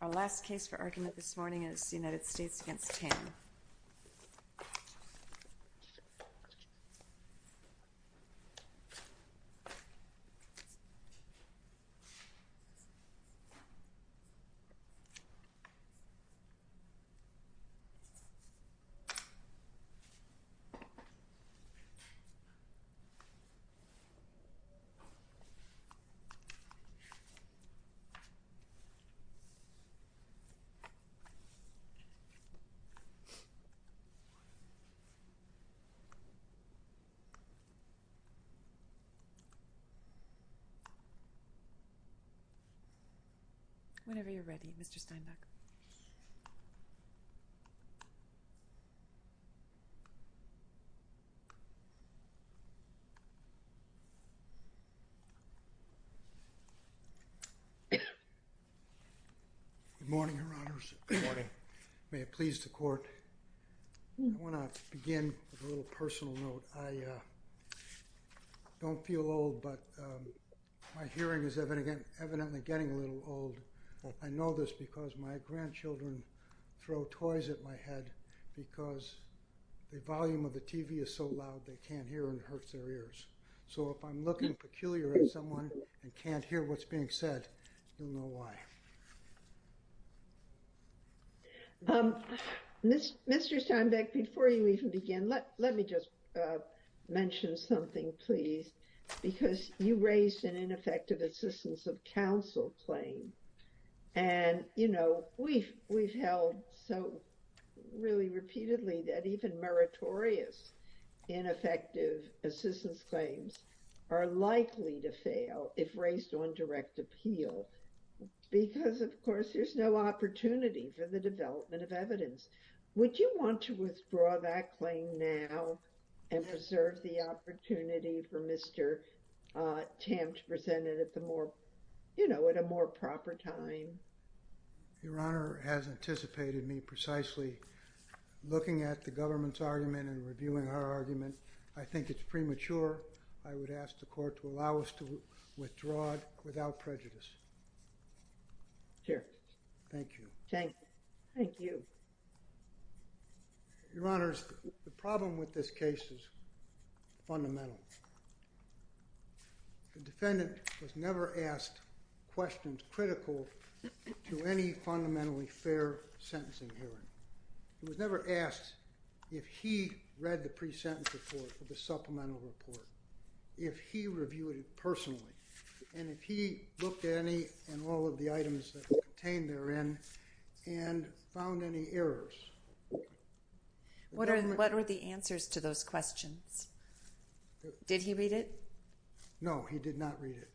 Our last case for argument this morning is the United States v. Tam. Our first argument this morning is the United States v. Tam. Good morning, Your Honors. May it please the Court. I want to begin with a little personal note. I don't feel old, but my hearing is evidently getting a little old. I know this because my grandchildren throw toys at my head because the volume of the TV is so loud they can't hear and it hurts their ears. So if I'm looking peculiar at someone and can't hear what's being said, you'll know why. Mr. Steinbeck, before you even begin, let me just mention something, please. Because you raised an ineffective assistance of counsel claim. And, you know, we've held so really repeatedly that even meritorious ineffective assistance claims are likely to fail if raised on direct appeal because, of course, there's no opportunity for the development of evidence. Would you want to withdraw that claim now and preserve the opportunity for Mr. Tam to present it at a more proper time? Your Honor has anticipated me precisely looking at the government's argument and reviewing her argument. I think it's premature. I would ask the Court to allow us to withdraw it without prejudice. Here. Thank you. Thank you. Your Honors, the problem with this case is fundamental. The defendant was never asked questions critical to any fundamentally fair sentencing hearing. He was never asked if he read the pre-sentence report or the supplemental report, if he reviewed it personally, and if he looked at any and all of the items that were contained therein and found any errors. What are the answers to those questions? Did he read it? No, he did not read it.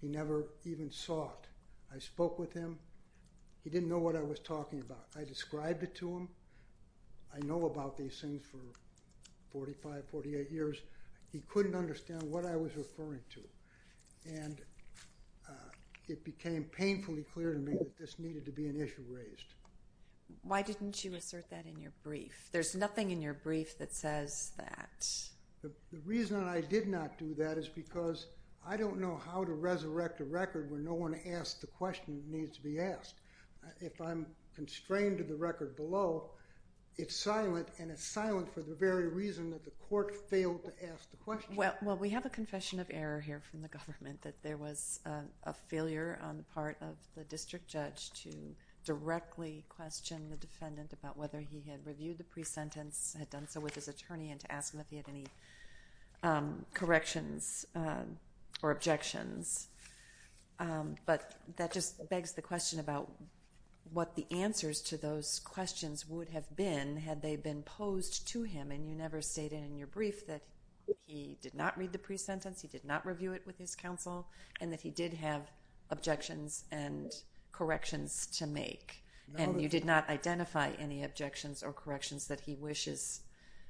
He never even saw it. I spoke with him. He didn't know what I was talking about. I described it to him. I know about these things for 45, 48 years. He couldn't understand what I was referring to, and it became painfully clear to me that this needed to be an issue raised. Why didn't you assert that in your brief? There's nothing in your brief that says that. The reason I did not do that is because I don't know how to resurrect a record where no one asks the question that needs to be asked. If I'm constrained to the record below, it's silent, and it's silent for the very reason that the court failed to ask the question. Well, we have a confession of error here from the government, that there was a failure on the part of the district judge to directly question the defendant about whether he had reviewed the pre-sentence, had done so with his attorney, and to ask him if he had any corrections or objections. But that just begs the question about what the answers to those questions would have been had they been posed to him. And you never stated in your brief that he did not read the pre-sentence, he did not review it with his counsel, and that he did have objections and corrections to make. And you did not identify any objections or corrections that he wishes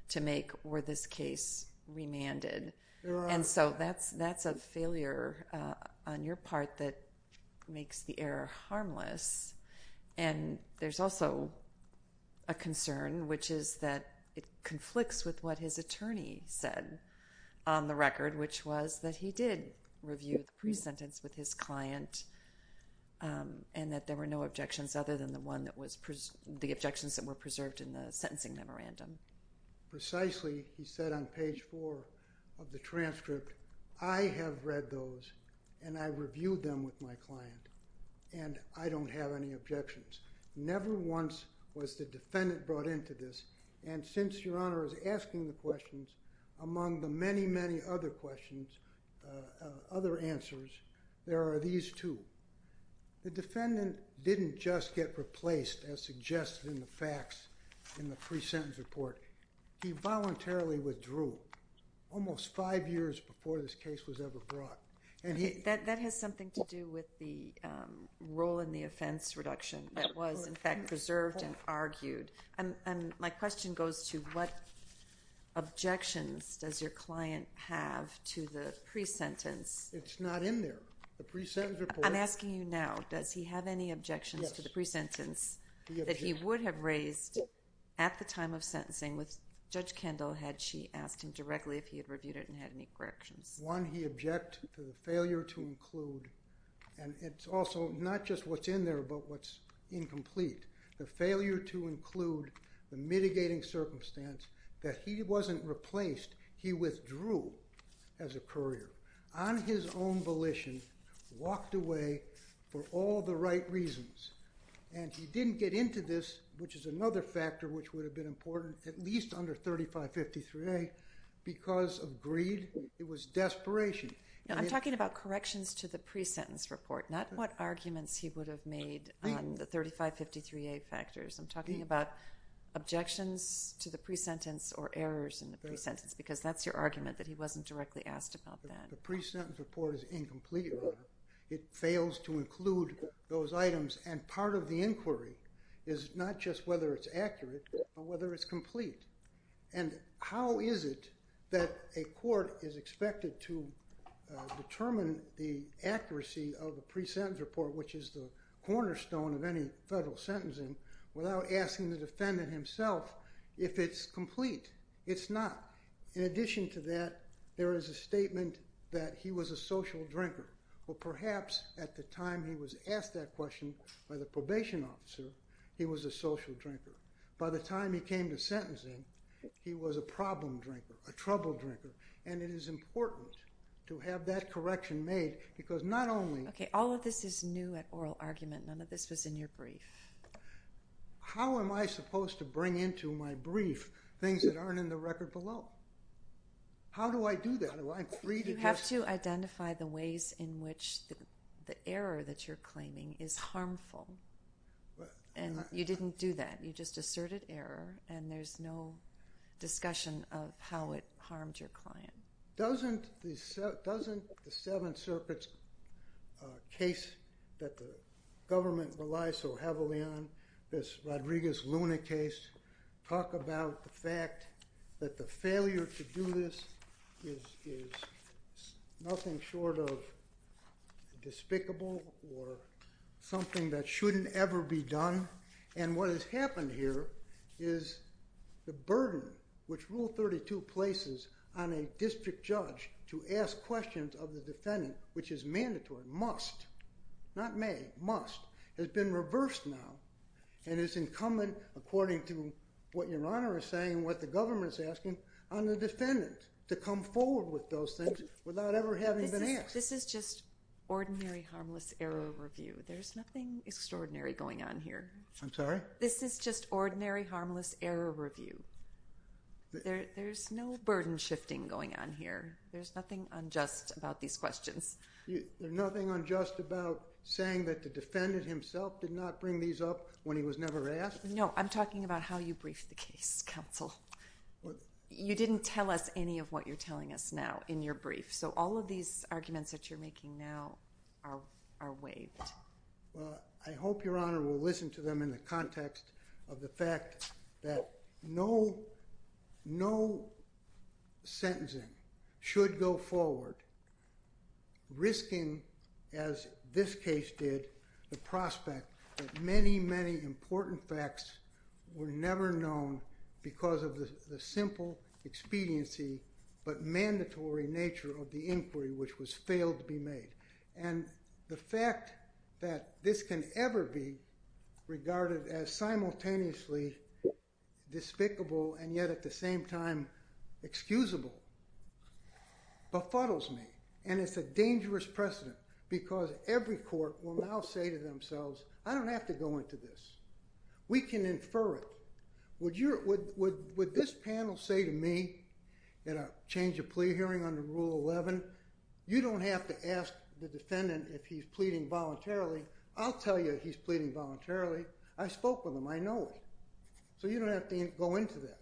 to make were this case remanded. And so that's a failure on your part that makes the error harmless. And there's also a concern, which is that it conflicts with what his attorney said on the record, which was that he did review the pre-sentence with his client and that there were no objections other than the objections that were preserved in the sentencing memorandum. Precisely, he said on page four of the transcript, I have read those and I reviewed them with my client and I don't have any objections. Never once was the defendant brought into this, and since Your Honor is asking the questions, among the many, many other questions, other answers, there are these two. The defendant didn't just get replaced as suggested in the facts in the pre-sentence report. He voluntarily withdrew almost five years before this case was ever brought. That has something to do with the role in the offense reduction that was, in fact, preserved and argued. And my question goes to what objections does your client have to the pre-sentence? It's not in there, the pre-sentence report. I'm asking you now, does he have any objections to the pre-sentence that he would have raised at the time of sentencing with Judge Kendall had she asked him directly if he had reviewed it and had any corrections? One, he objected to the failure to include, and it's also not just what's in there but what's incomplete. The failure to include the mitigating circumstance that he wasn't replaced. He withdrew as a courier on his own volition, walked away for all the right reasons, and he didn't get into this, which is another factor which would have been important, at least under 3553A because of greed. It was desperation. I'm talking about corrections to the pre-sentence report, not what arguments he would have made on the 3553A factors. I'm talking about objections to the pre-sentence or errors in the pre-sentence because that's your argument that he wasn't directly asked about that. The pre-sentence report is incomplete, Your Honor. It fails to include those items, and part of the inquiry is not just whether it's accurate but whether it's complete. How is it that a court is expected to determine the accuracy of a pre-sentence report, which is the cornerstone of any federal sentencing, without asking the defendant himself if it's complete. It's not. In addition to that, there is a statement that he was a social drinker. Perhaps at the time he was asked that question by the probation officer, he was a social drinker. By the time he came to sentencing, he was a problem drinker, a trouble drinker, and it is important to have that correction made because not only— Okay, all of this is new at oral argument. None of this was in your brief. How am I supposed to bring into my brief things that aren't in the record below? How do I do that? You have to identify the ways in which the error that you're claiming is harmful, and you didn't do that. You just asserted error, and there's no discussion of how it harmed your client. Doesn't the Seven Serpents case that the government relies so heavily on, this Rodriguez-Luna case, talk about the fact that the failure to do this is nothing short of despicable or something that shouldn't ever be done? And what has happened here is the burden which Rule 32 places on a district judge to ask questions of the defendant, which is mandatory, must, not may, must, has been reversed now. And it's incumbent, according to what Your Honor is saying, what the government is asking, on the defendant to come forward with those things without ever having been asked. This is just ordinary harmless error review. There's nothing extraordinary going on here. I'm sorry? This is just ordinary harmless error review. There's no burden shifting going on here. There's nothing unjust about these questions. There's nothing unjust about saying that the defendant himself did not bring these up when he was never asked? No, I'm talking about how you briefed the case, counsel. You didn't tell us any of what you're telling us now in your brief. So all of these arguments that you're making now are waived. Well, I hope Your Honor will listen to them in the context of the fact that no sentencing should go forward, risking, as this case did, the prospect that many, many important facts were never known because of the simple expediency but mandatory nature of the inquiry which was failed to be made. And the fact that this can ever be regarded as simultaneously despicable and yet at the same time excusable befuddles me. And it's a dangerous precedent because every court will now say to themselves, I don't have to go into this. We can infer it. Would this panel say to me at a change of plea hearing under Rule 11, you don't have to ask the defendant if he's pleading voluntarily. I'll tell you he's pleading voluntarily. I spoke with him. I know him. So you don't have to go into that.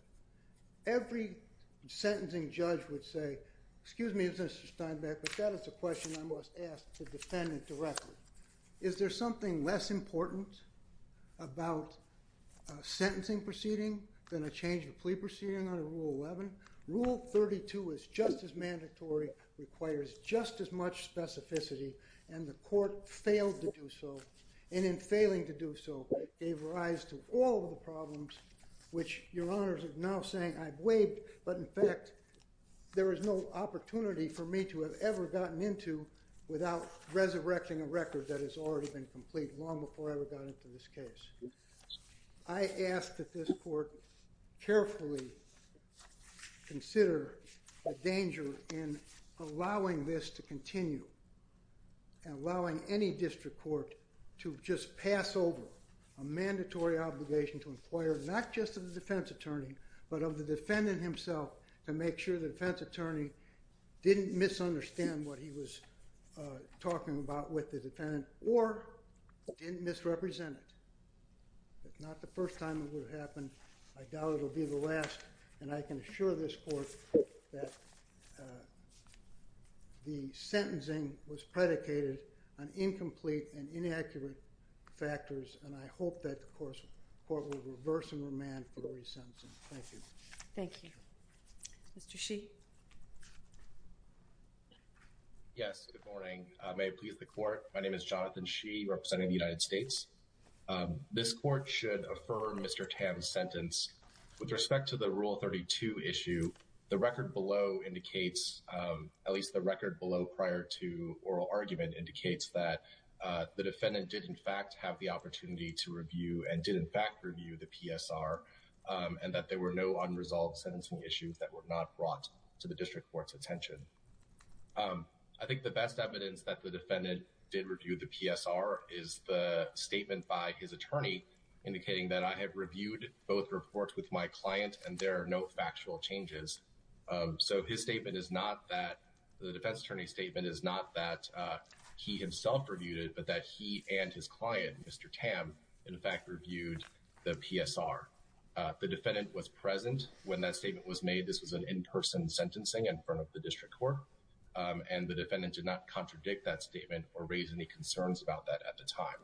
Every sentencing judge would say, excuse me, Mr. Steinbeck, but that is a question I must ask the defendant directly. Is there something less important about a sentencing proceeding than a change of plea proceeding under Rule 11? Rule 32 is just as mandatory, requires just as much specificity, and the court failed to do so, and in failing to do so, gave rise to all the problems which Your Honors are now saying I've waived, but in fact there is no opportunity for me to have ever gotten into this problem without resurrecting a record that has already been complete long before I ever got into this case. I ask that this court carefully consider the danger in allowing this to continue and allowing any district court to just pass over a mandatory obligation to inquire not just of the defense attorney, but of the defendant himself to make sure the defense attorney didn't misunderstand what he was talking about with the defendant, or didn't misrepresent it. If not the first time it would have happened, I doubt it will be the last, and I can assure this court that the sentencing was predicated on incomplete and inaccurate factors, and I hope that the court will reverse and remand for the resentencing. Thank you. Thank you. Mr. Shi. Yes, good morning. May it please the court, my name is Jonathan Shi, representing the United States. This court should affirm Mr. Tam's sentence. With respect to the Rule 32 issue, the record below indicates, at least the record below prior to oral argument, indicates that the defendant did in fact have the opportunity to review and did in fact review the PSR, and that there were no unresolved sentencing issues that were not brought to the district court's attention. I think the best evidence that the defendant did review the PSR is the statement by his attorney indicating that I have reviewed both reports with my client and there are no factual changes. So his statement is not that, the defense attorney's statement is not that he himself reviewed it, but that he and his client, Mr. Tam, in fact reviewed the PSR. The defendant was present when that statement was made. This was an in-person sentencing in front of the district court, and the defendant did not contradict that statement or raise any concerns about that at the time.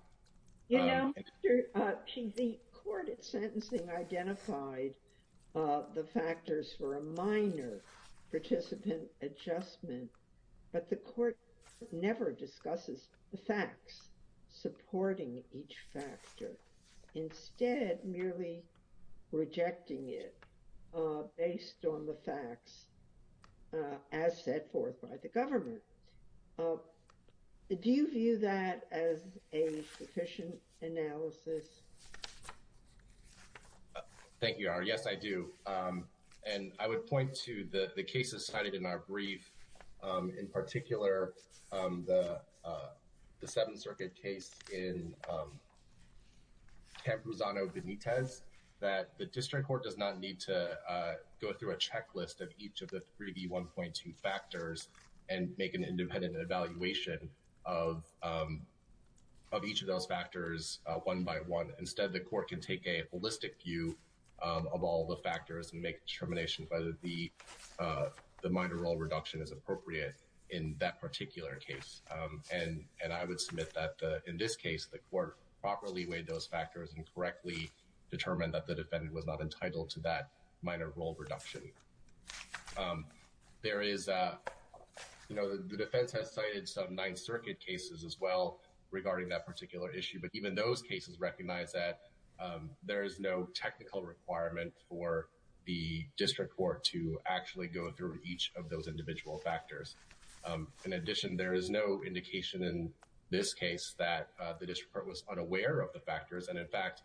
You know, Mr. Shi, the court at sentencing identified the factors for a minor participant adjustment, but the court never discusses the facts supporting each factor. Instead, merely rejecting it based on the facts as set forth by the government. Do you view that as a sufficient analysis? Thank you, Your Honor. Yes, I do. And I would point to the cases cited in our brief, in particular the Seventh Circuit case in Campuzano-Benitez, that the district court does not need to go through a checklist of each of the 3D1.2 factors and make an independent evaluation of each of those factors one by one. Instead, the court can take a holistic view of all the factors and make determinations whether the minor role reduction is appropriate in that particular case. And I would submit that in this case, the court properly weighed those factors and correctly determined that the defendant was not entitled to that minor role reduction. There is, you know, the defense has cited some Ninth Circuit cases as well regarding that particular issue, but even those cases recognize that there is no technical requirement for the district court to actually go through each of those individual factors. In addition, there is no indication in this case that the district court was unaware of the factors, and in fact,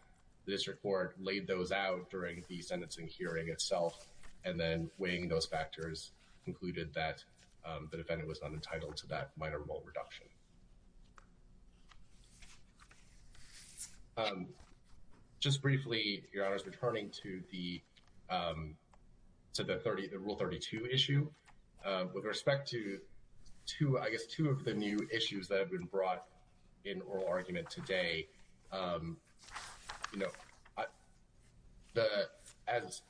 the district court laid those out during the sentencing hearing itself, and then weighing those factors, concluded that the defendant was not entitled to that minor role reduction. Thank you. Just briefly, Your Honors, returning to the Rule 32 issue, with respect to, I guess, two of the new issues that have been brought in oral argument today, you know,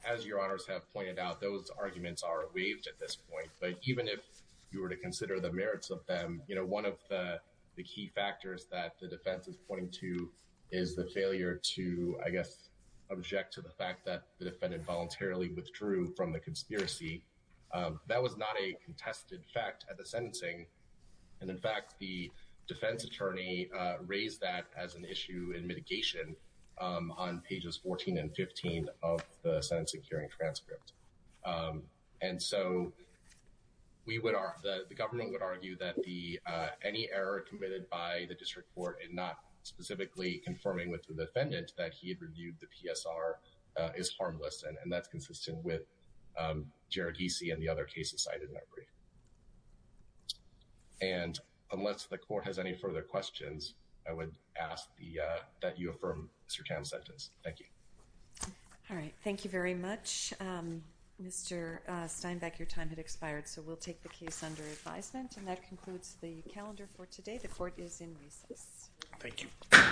as Your Honors have pointed out, those arguments are waived at this point, but even if you were to consider the merits of them, you know, one of the key factors that the defense is pointing to is the failure to, I guess, object to the fact that the defendant voluntarily withdrew from the conspiracy. That was not a contested fact at the sentencing, and in fact, the defense attorney raised that as an issue in mitigation on pages 14 and 15 of the sentencing hearing transcript. And so, we would argue, the government would argue that any error committed by the district court in not specifically confirming with the defendant that he had reviewed the PSR is harmless, and that's consistent with Jared Giese and the other cases cited in that brief. And unless the court has any further questions, I would ask that you affirm Mr. Tam's sentence. Thank you. All right, thank you very much. Mr. Steinbeck, your time had expired, so we'll take the case under advisement, and that concludes the calendar for today. The court is in recess. Thank you.